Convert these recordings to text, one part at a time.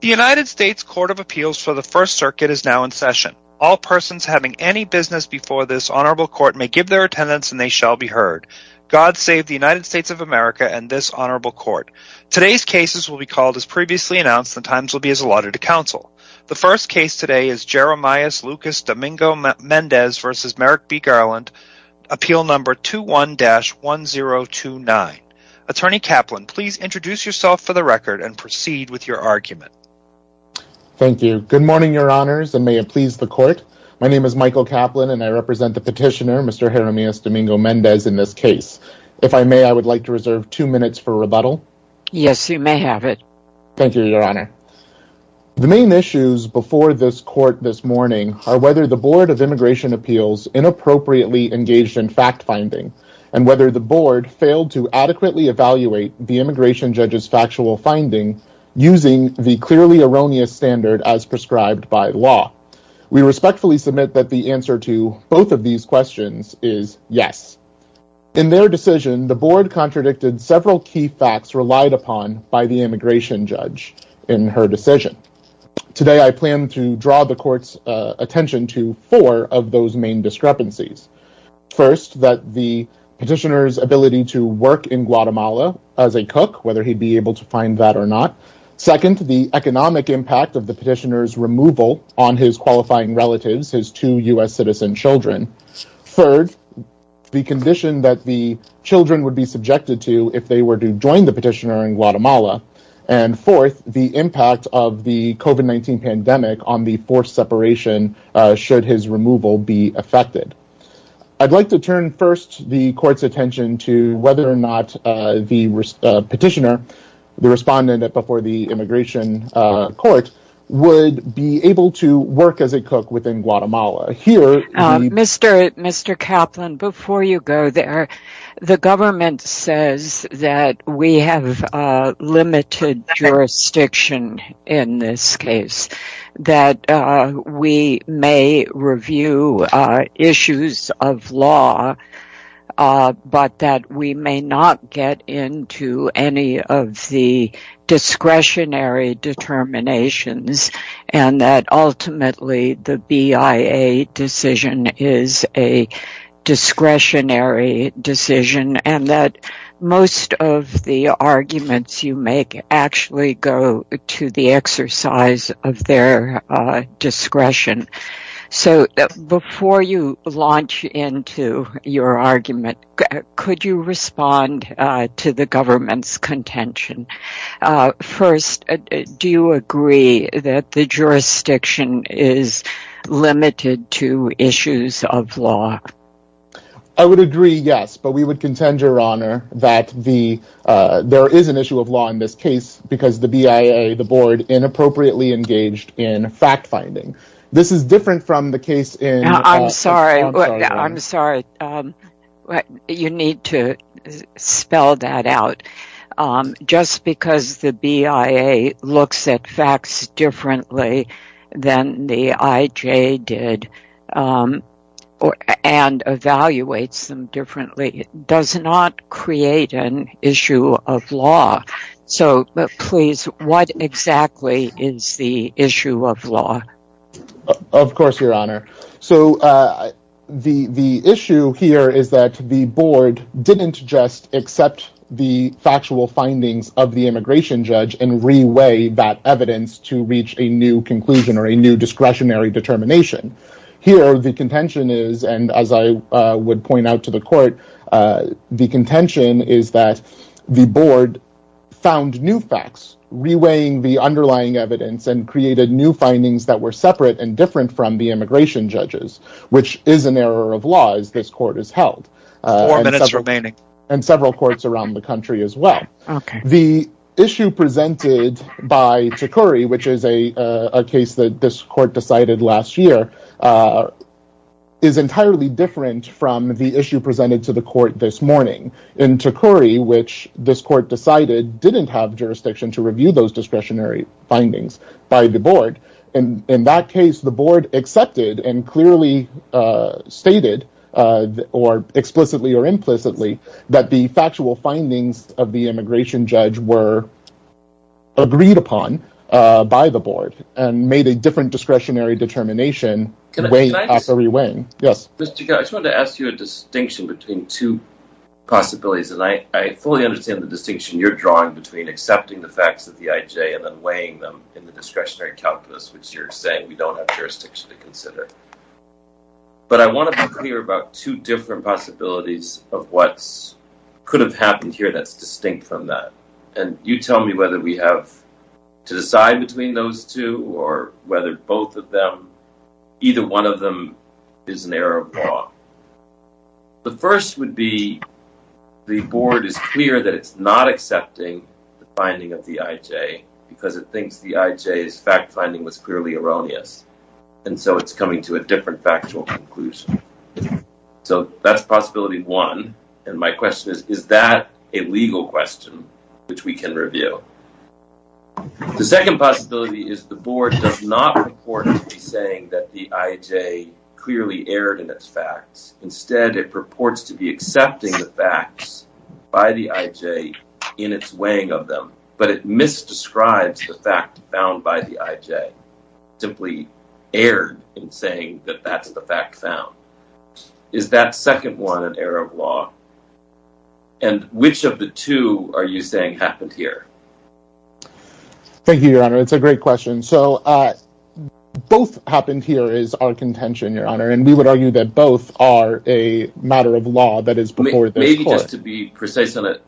The United States Court of Appeals for the First Circuit is now in session. All persons having any business before this honorable court may give their attendance and they shall be heard. God save the United States of America and this honorable court. Today's cases will be called as previously announced and times will be as allotted to counsel. The first case today is Jeremias Lucas Domingo-Mendez v. Merrick B. Garland, appeal number 21-1029. Attorney Kaplan, please introduce yourself for the record and proceed with your argument. Thank you. Good morning, your honors, and may it please the court. My name is Michael Kaplan and I represent the petitioner, Mr. Jeremias Domingo-Mendez, in this case. If I may, I would like to reserve two minutes for rebuttal. Yes, you may have it. Thank you, your honor. The main issues before this court this morning are whether the Board of Immigration Appeals inappropriately engaged in fact-finding and whether the board failed to adequately evaluate the immigration judge's factual finding using the clearly erroneous standard as prescribed by law. We respectfully submit that the answer to both of these questions is yes. In their decision, the board contradicted several key facts relied upon by the immigration judge in her decision. Today, I plan to draw the court's attention to four of those main discrepancies. First, that the petitioner's ability to work in Guatemala as a cook, whether he'd be able to find that or not. Second, the economic impact of the petitioner's removal on his qualifying relatives, his two U.S. citizen children. Third, the condition that the children would be subjected to if they were to join the petitioner in Guatemala. And fourth, the impact of the COVID-19 pandemic on the forced separation should his removal be affected. I'd like to turn first the court's attention to whether or not the petitioner, the respondent before the immigration court, would be able to work as a cook within Guatemala. Mr. Kaplan, before you go there, the government says that we have limited jurisdiction in this case. That we may review issues of law, but that we may not get into any of the discretionary determinations. And that ultimately, the BIA decision is a discretionary decision. And that most of the arguments you make actually go to the exercise of their discretion. So, before you launch into your argument, could you respond to the government's contention? First, do you agree that the jurisdiction is limited to issues of law? I would agree, yes. But we would contend, Your Honor, that there is an issue of law in this case because the BIA, the board, inappropriately engaged in fact-finding. I'm sorry. You need to spell that out. Just because the BIA looks at facts differently than the IJ did and evaluates them differently does not create an issue of law. So, please, what exactly is the issue of law? Of course, Your Honor. So, the issue here is that the board didn't just accept the factual findings of the immigration judge and re-weigh that evidence to reach a new conclusion or a new discretionary determination. Here, the contention is, and as I would point out to the court, the contention is that the board found new facts, re-weighing the underlying evidence, and created new findings that were separate and different from the immigration judges, which is an error of law as this court has held. Four minutes remaining. And several courts around the country as well. The issue presented by Tecuri, which is a case that this court decided last year, is entirely different from the issue presented to the court this morning. In Tecuri, which this court decided didn't have jurisdiction to review those discretionary findings by the board, in that case, the board accepted and clearly stated, or explicitly or implicitly, that the factual findings of the immigration judge were agreed upon by the board and made a different discretionary determination after re-weighing. I just wanted to ask you a distinction between two possibilities, and I fully understand the distinction you're drawing between accepting the facts of the IJ and then weighing them in the discretionary calculus, which you're saying we don't have jurisdiction to consider. But I want to be clear about two different possibilities of what could have happened here that's distinct from that. And you tell me whether we have to decide between those two, or whether either one of them is an error of law. The first would be the board is clear that it's not accepting the finding of the IJ because it thinks the IJ's fact-finding was clearly erroneous. And so it's coming to a different factual conclusion. So that's possibility one. And my question is, is that a legal question which we can review? The second possibility is the board does not purport to be saying that the IJ clearly erred in its facts. Instead, it purports to be accepting the facts by the IJ in its weighing of them. But it misdescribes the fact found by the IJ, simply erred in saying that that's the fact found. Is that second one an error of law? And which of the two are you saying happened here? Thank you, Your Honor. It's a great question. So both happened here is our contention, Your Honor. And we would argue that both are a matter of law that is before this court. Maybe just to be precise on it,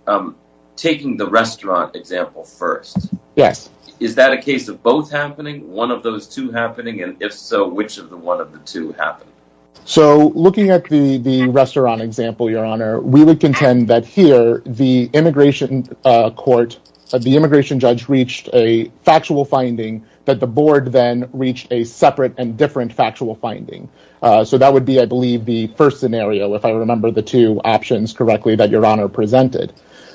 taking the restaurant example first. Yes. Is that a case of both happening? One of those two happening? And if so, which of the one of the two happened? So looking at the restaurant example, Your Honor, we would contend that here the immigration court, the immigration judge reached a factual finding that the board then reached a separate and different factual finding. So that would be, I believe, the first scenario, if I remember the two options correctly that Your Honor presented.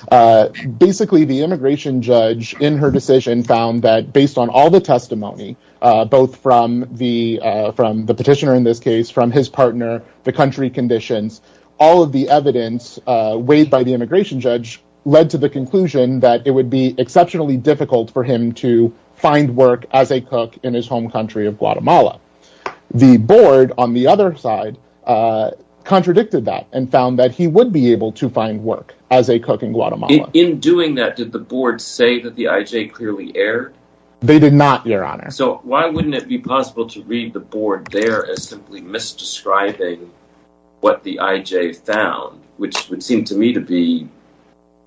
Basically, the immigration judge in her decision found that based on all the testimony, both from the petitioner in this case, from his partner, the country conditions, all of the evidence weighed by the immigration judge led to the conclusion that it would be exceptionally difficult for him to find work as a cook in his home country of Guatemala. The board on the other side contradicted that and found that he would be able to find work as a cook in Guatemala. In doing that, did the board say that the IJ clearly erred? They did not, Your Honor. So why wouldn't it be possible to read the board there as simply misdescribing what the IJ found, which would seem to me to be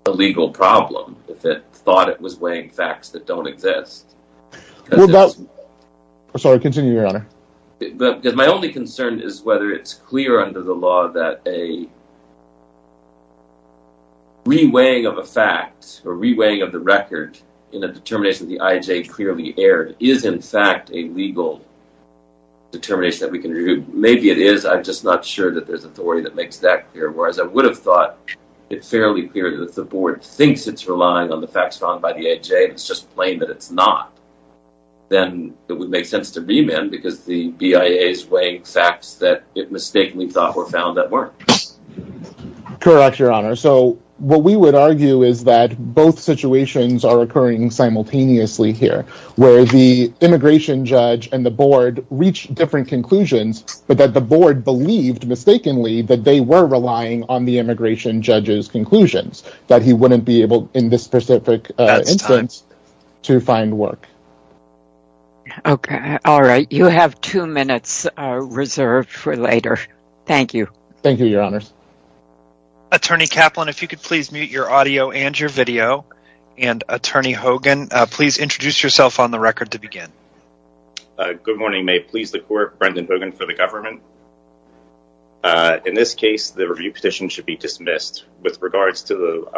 a legal problem if it thought it was weighing facts that don't exist? Sorry, continue, Your Honor. My only concern is whether it's clear under the law that a re-weighing of a fact or re-weighing of the record in a determination that the IJ clearly erred is in fact a legal determination that we can review. Maybe it is, I'm just not sure that there's authority that makes that clear. Whereas I would have thought it fairly clear that if the board thinks it's relying on the facts found by the IJ, and it's just plain that it's not, then it would make sense to re-mend because the BIA is weighing facts that it mistakenly thought were found that weren't. Correct, Your Honor. So what we would argue is that both situations are occurring simultaneously here, where the immigration judge and the board reached different conclusions, but that the board believed mistakenly that they were relying on the immigration judge's conclusions, that he wouldn't be able, in this specific instance, to find work. Okay, all right. You have two minutes reserved for later. Thank you. Thank you, Your Honors. Attorney Kaplan, if you could please mute your audio and your video, and Attorney Hogan, please introduce yourself on the record to begin. Good morning. May it please the Court, Brendan Hogan for the government. In this case, the review petition should be dismissed. With regards to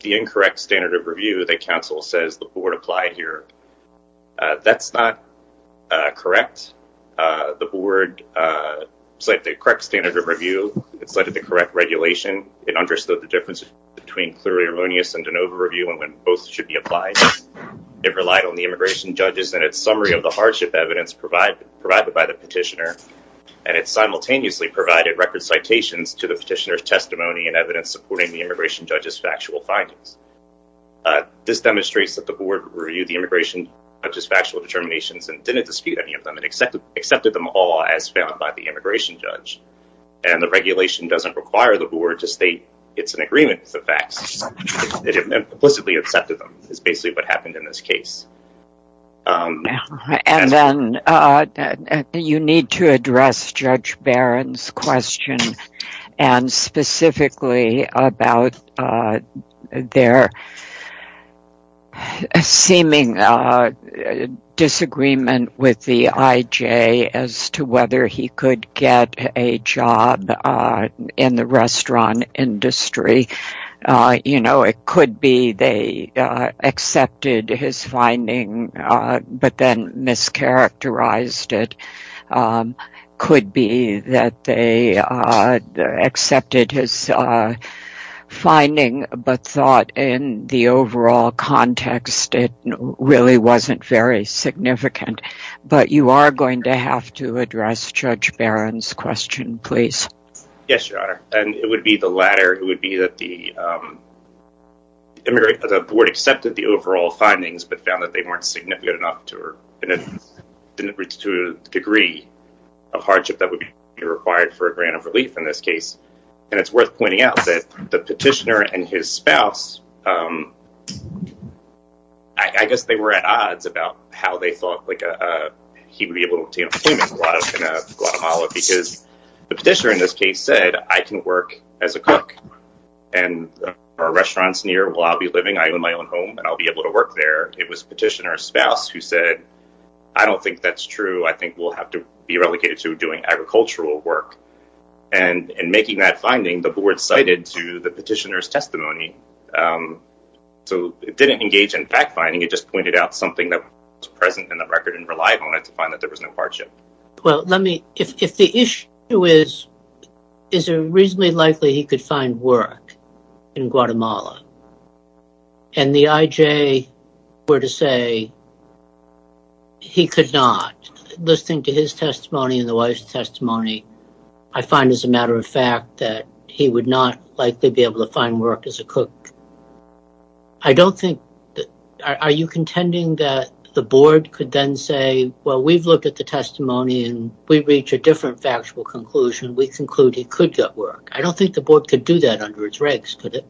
the incorrect standard of review, the counsel says the board applied here. That's not correct. The board cited the correct standard of review. It cited the correct regulation. It understood the difference between clear erroneous and an overview, and when both should be applied. It relied on the immigration judge's and its summary of the hardship evidence provided by the petitioner, and it simultaneously provided record citations to the petitioner's testimony and evidence supporting the immigration judge's factual findings. This demonstrates that the board reviewed the immigration judge's factual determinations and didn't dispute any of them, and accepted them all as found by the immigration judge. And the regulation doesn't require the board to state it's in agreement with the facts. It implicitly accepted them is basically what happened in this case. And then you need to address Judge Barron's question, and specifically about their seeming disagreement with the IJ as to whether he could get a job in the restaurant industry. You know, it could be they accepted his finding, but then mischaracterized it. Could be that they accepted his finding, but thought in the overall context it really wasn't very significant. But you are going to have to address Judge Barron's question, please. Yes, Your Honor, and it would be the latter. It would be that the board accepted the overall findings, but found that they weren't significant enough to reach a degree of hardship that would be required for a grant of relief in this case. And it's worth pointing out that the petitioner and his spouse, I guess they were at odds about how they thought he would be able to obtain employment in Guatemala because the petitioner in this case said, I can work as a cook and our restaurant's near. Well, I'll be living in my own home and I'll be able to work there. It was petitioner's spouse who said, I don't think that's true. I think we'll have to be relegated to doing agricultural work. And in making that finding, the board cited to the petitioner's testimony. So it didn't engage in fact finding. It just pointed out something that was present in the record and relied on it to find that there was no hardship. Well, let me if the issue is, is it reasonably likely he could find work in Guatemala? And the IJ were to say he could not. Listening to his testimony and the wife's testimony, I find as a matter of fact that he would not likely be able to find work as a cook. I don't think that are you contending that the board could then say, well, we've looked at the testimony and we reach a different factual conclusion. We conclude he could get work. I don't think the board could do that under its regs. Could it?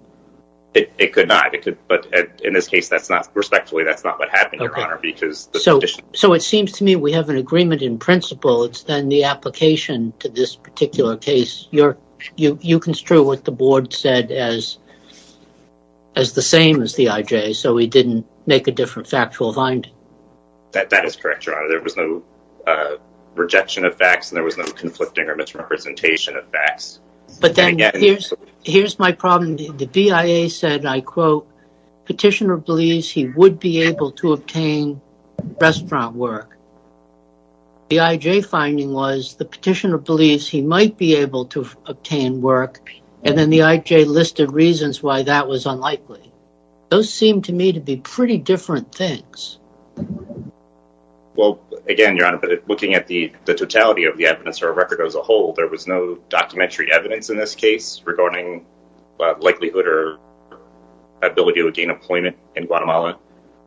It could not. But in this case, that's not respectfully. That's not what happened. Because so. So it seems to me we have an agreement in principle. It's then the application to this particular case. You're you. You construe what the board said as. As the same as the IJ, so we didn't make a different factual find. That is correct. There was no rejection of facts and there was no conflicting or misrepresentation of facts. But then here's here's my problem. The BIA said, I quote, petitioner believes he would be able to obtain restaurant work. The IJ finding was the petitioner believes he might be able to obtain work. And then the IJ listed reasons why that was unlikely. Those seem to me to be pretty different things. Well, again, you're looking at the totality of the evidence or record as a whole. There was no documentary evidence in this case regarding likelihood or ability to gain employment in Guatemala.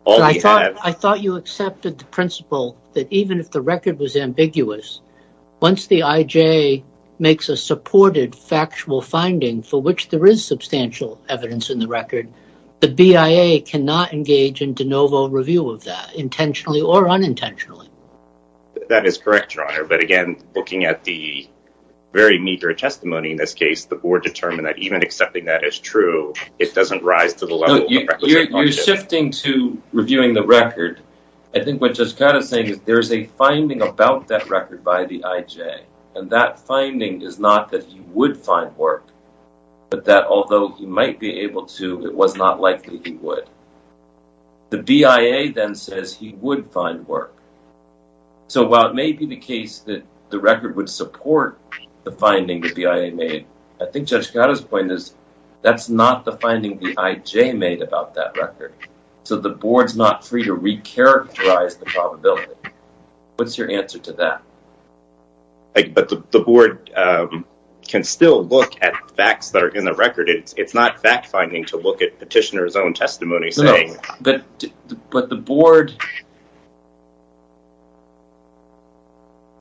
All I thought I thought you accepted the principle that even if the record was ambiguous, once the IJ makes a supported factual finding for which there is substantial evidence in the record, the BIA cannot engage in de novo review of that intentionally or unintentionally. That is correct, your honor. But again, looking at the very meager testimony in this case, the board determined that even accepting that is true. It doesn't rise to the level you're shifting to reviewing the record. I think what just kind of saying is there is a finding about that record by the IJ. And that finding is not that he would find work, but that although he might be able to, it was not likely he would. The BIA then says he would find work. So while it may be the case that the record would support the finding that the IA made, I think just got his point is that's not the finding the IJ made about that record. So the board's not free to recharacterize the probability. What's your answer to that? But the board can still look at facts that are in the record. It's not fact finding to look at petitioner's own testimony. But the board.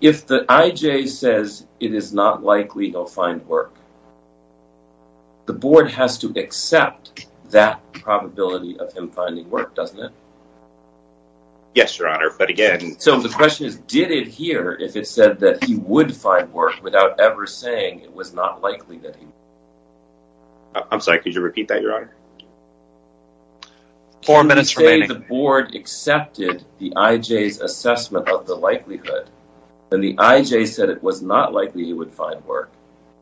If the IJ says it is not likely he'll find work. The board has to accept that probability of him finding work, doesn't it? Yes, your honor. But again. So the question is, did it hear if it said that he would find work without ever saying it was not likely that he would? I'm sorry, could you repeat that, your honor? Four minutes remaining. The board accepted the IJ's assessment of the likelihood. And the IJ said it was not likely he would find work.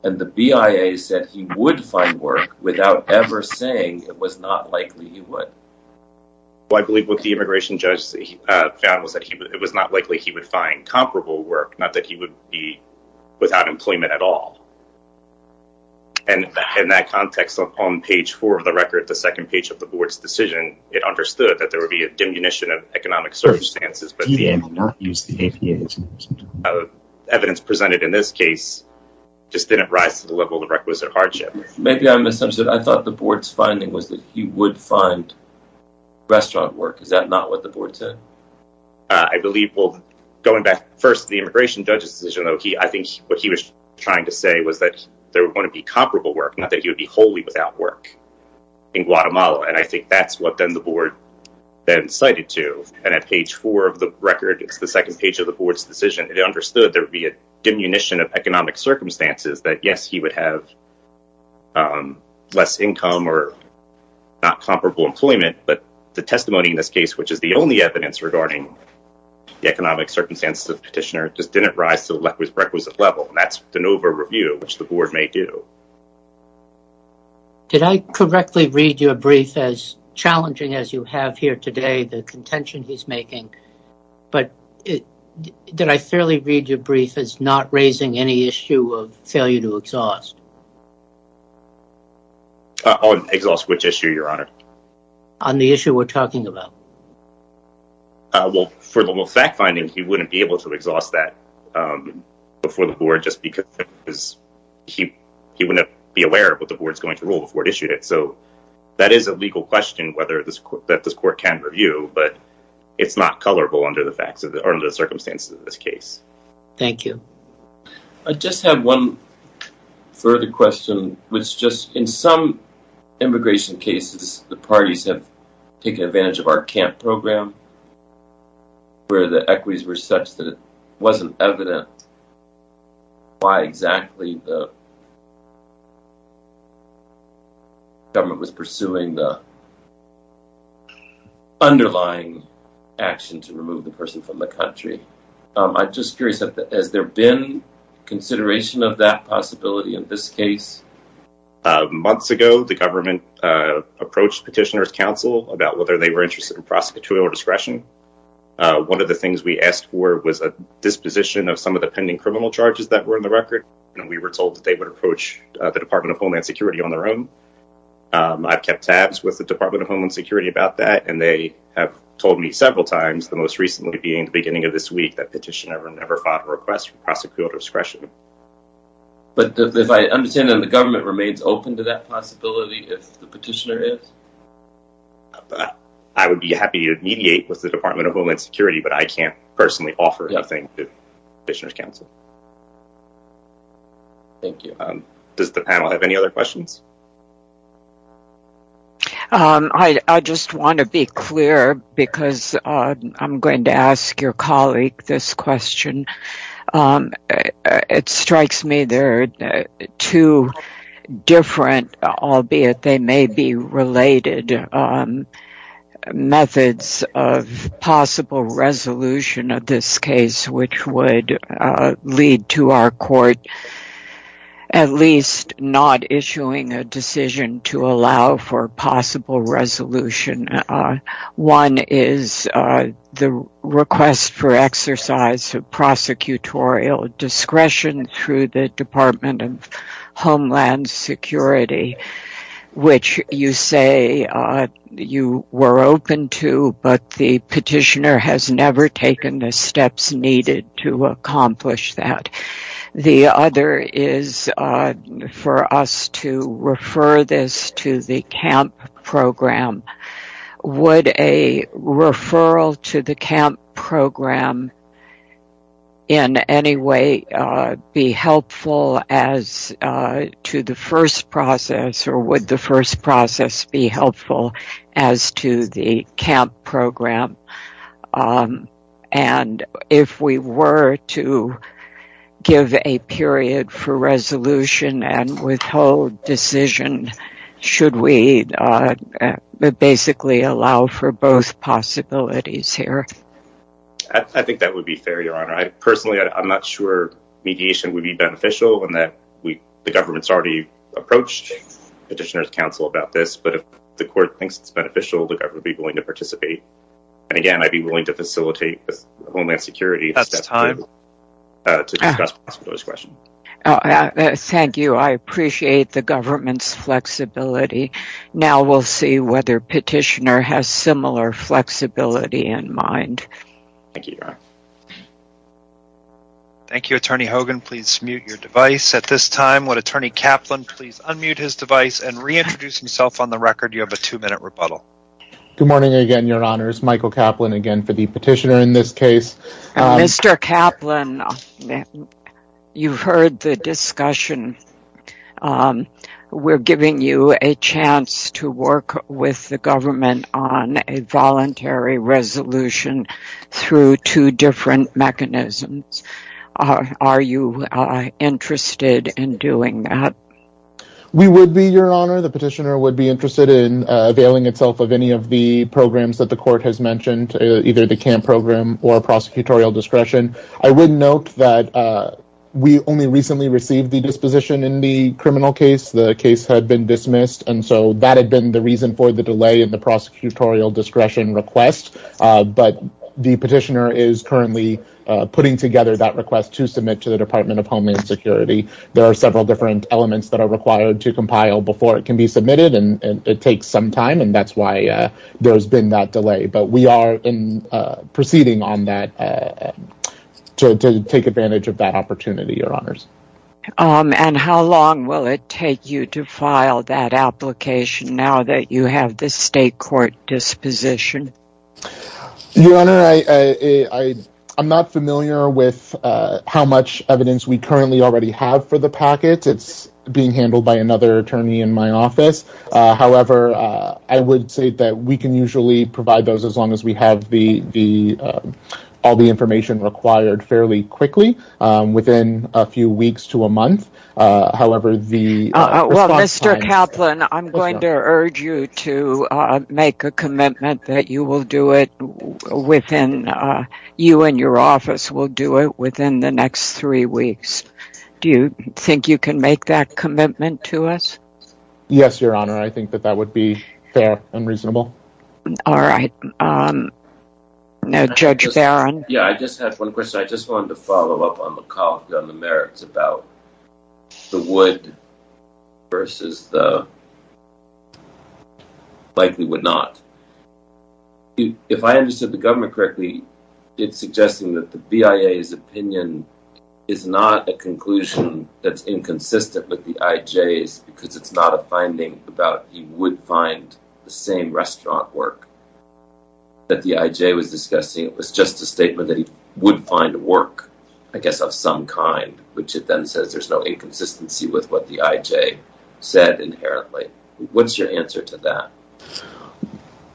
And the BIA said he would find work without ever saying it was not likely he would. I believe what the immigration judge found was that it was not likely he would find comparable work. Not that he would be without employment at all. And in that context, on page four of the record, the second page of the board's decision, it understood that there would be a diminution of economic circumstances. But the evidence presented in this case just didn't rise to the level of the requisite hardship. Maybe I'm assumptive. I thought the board's finding was that he would find restaurant work. Is that not what the board said? I believe. Well, going back first to the immigration judge's decision, I think what he was trying to say was that there were going to be comparable work, not that he would be wholly without work in Guatemala. And I think that's what then the board then cited to. And at page four of the record, it's the second page of the board's decision. It understood there would be a diminution of economic circumstances that, yes, he would have less income or not comparable employment. But the testimony in this case, which is the only evidence regarding the economic circumstances of petitioner, just didn't rise to the requisite level. That's an over review, which the board may do. Did I correctly read your brief as challenging as you have here today, the contention he's making? But did I fairly read your brief as not raising any issue of failure to exhaust? Exhaust which issue, your honor? On the issue we're talking about. Well, for the fact finding, he wouldn't be able to exhaust that before the board just because he he wouldn't be aware of what the board's going to rule before it issued it. So that is a legal question whether this that this court can review. But it's not colorable under the facts of the circumstances of this case. Thank you. I just have one further question, which just in some immigration cases, the parties have taken advantage of our camp program. Where the equities were such that it wasn't evident. Why exactly the government was pursuing the underlying action to remove the person from the country. I'm just curious, has there been consideration of that possibility in this case? Months ago, the government approached Petitioner's Council about whether they were interested in prosecutorial discretion. One of the things we asked for was a disposition of some of the pending criminal charges that were in the record. And we were told that they would approach the Department of Homeland Security on their own. I've kept tabs with the Department of Homeland Security about that, and they have told me several times, the most recently being the beginning of this week, that petitioner never filed a request for prosecutorial discretion. But if I understand that the government remains open to that possibility, if the petitioner is? I would be happy to mediate with the Department of Homeland Security, but I can't personally offer anything to Petitioner's Council. Thank you. Does the panel have any other questions? I just want to be clear, because I'm going to ask your colleague this question. It strikes me there are two different, albeit they may be related, methods of possible resolution of this case, which would lead to our court at least not issuing a decision to allow for possible resolution. One is the request for exercise of prosecutorial discretion through the Department of Homeland Security, which you say you were open to, but the petitioner has never taken the steps needed to accomplish that. The other is for us to refer this to the CAMP program. Would a referral to the CAMP program in any way be helpful as to the first process, or would the first process be helpful as to the CAMP program? And if we were to give a period for resolution and withhold decision, should we basically allow for both possibilities here? I think that would be fair, Your Honor. Personally, I'm not sure mediation would be beneficial in that the government's already approached Petitioner's Council about this, but if the court thinks it's beneficial, the government would be willing to participate. And again, I'd be willing to facilitate with Homeland Security to discuss prosecutorial discretion. Thank you. I appreciate the government's flexibility. Now we'll see whether Petitioner has similar flexibility in mind. Thank you, Your Honor. Thank you, Attorney Hogan. Please mute your device at this time. Would Attorney Kaplan please unmute his device and reintroduce himself on the record? You have a two-minute rebuttal. Good morning again, Your Honor. It's Michael Kaplan again for the petitioner in this case. Mr. Kaplan, you've heard the discussion. We're giving you a chance to work with the government on a voluntary resolution through two different mechanisms. Are you interested in doing that? We would be, Your Honor. The petitioner would be interested in availing itself of any of the programs that the court has mentioned, either the CAMP program or prosecutorial discretion. I would note that we only recently received the disposition in the criminal case. The case had been dismissed, and so that had been the reason for the delay in the prosecutorial discretion request. But the petitioner is currently putting together that request to submit to the Department of Homeland Security. There are several different elements that are required to compile before it can be submitted, and it takes some time, and that's why there's been that delay. But we are proceeding on that to take advantage of that opportunity, Your Honors. And how long will it take you to file that application now that you have the state court disposition? Your Honor, I'm not familiar with how much evidence we currently already have for the packet. It's being handled by another attorney in my office. However, I would say that we can usually provide those as long as we have all the information required fairly quickly, within a few weeks to a month. Well, Mr. Kaplan, I'm going to urge you to make a commitment that you and your office will do it within the next three weeks. Do you think you can make that commitment to us? Yes, Your Honor. I think that that would be fair and reasonable. All right. Now, Judge Barron. Yeah, I just have one question. I just wanted to follow up on the comment on the merits about the would versus the likely would not. If I understood the government correctly, it's suggesting that the BIA's opinion is not a conclusion that's inconsistent with the IJ's because it's not a finding about he would find the same restaurant work that the IJ was discussing. It was just a statement that he would find work, I guess, of some kind, which it then says there's no inconsistency with what the IJ said inherently. What's your answer to that?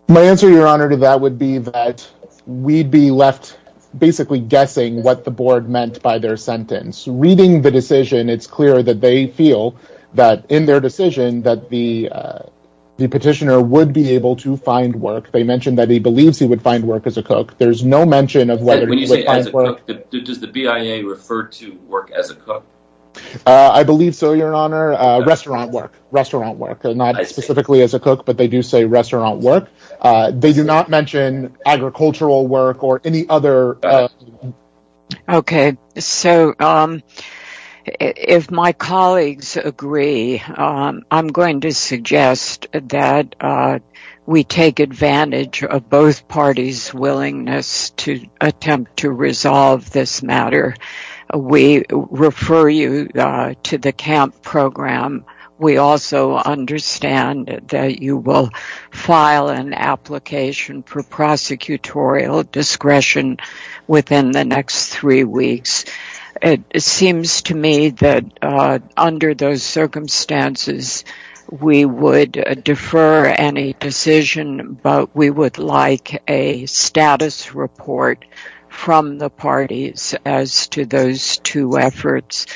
My answer, Your Honor, to that would be that we'd be left basically guessing what the board meant by their sentence. Reading the decision, it's clear that they feel that in their decision that the petitioner would be able to find work. They mentioned that he believes he would find work as a cook. There's no mention of whether he would find work. When you say as a cook, does the BIA refer to work as a cook? I believe so, Your Honor. Restaurant work, restaurant work, not specifically as a cook, but they do say restaurant work. They do not mention agricultural work or any other. Okay, so if my colleagues agree, I'm going to suggest that we take advantage of both parties' willingness to attempt to resolve this matter. We refer you to the CAMP program. We also understand that you will file an application for prosecutorial discretion within the next three weeks. It seems to me that under those circumstances, we would defer any decision, but we would like a status report from the parties as to those two efforts.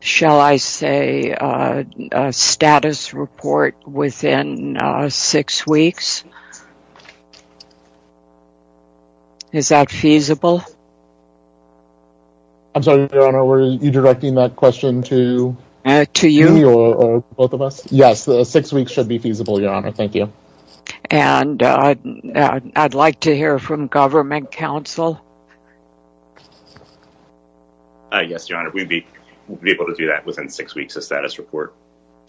Shall I say a status report within six weeks? Is that feasible? I'm sorry, Your Honor, were you directing that question to me or both of us? To you. Yes, six weeks should be feasible, Your Honor. Thank you. I'd like to hear from government counsel. Yes, Your Honor, we'd be able to do that within six weeks, a status report.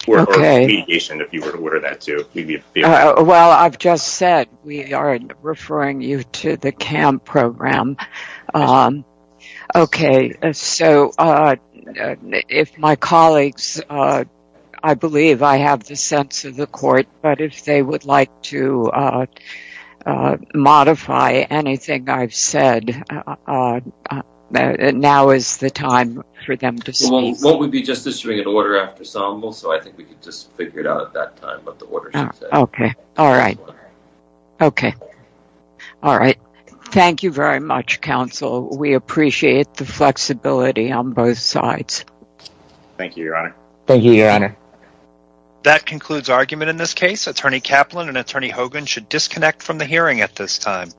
Okay. Or a litigation, if you were to order that, too. Well, I've just said we are referring you to the CAMP program. Okay, so if my colleagues, I believe I have the sense of the court, but if they would like to modify anything I've said, now is the time for them to speak. Well, we'd be just issuing an order after ensemble, so I think we could just figure it out at that time what the order should say. Okay. All right. Okay. All right. Thank you very much, counsel. We appreciate the flexibility on both sides. Thank you, Your Honor. Thank you, Your Honor. That concludes argument in this case. Attorney Kaplan and Attorney Hogan should disconnect from the hearing at this time.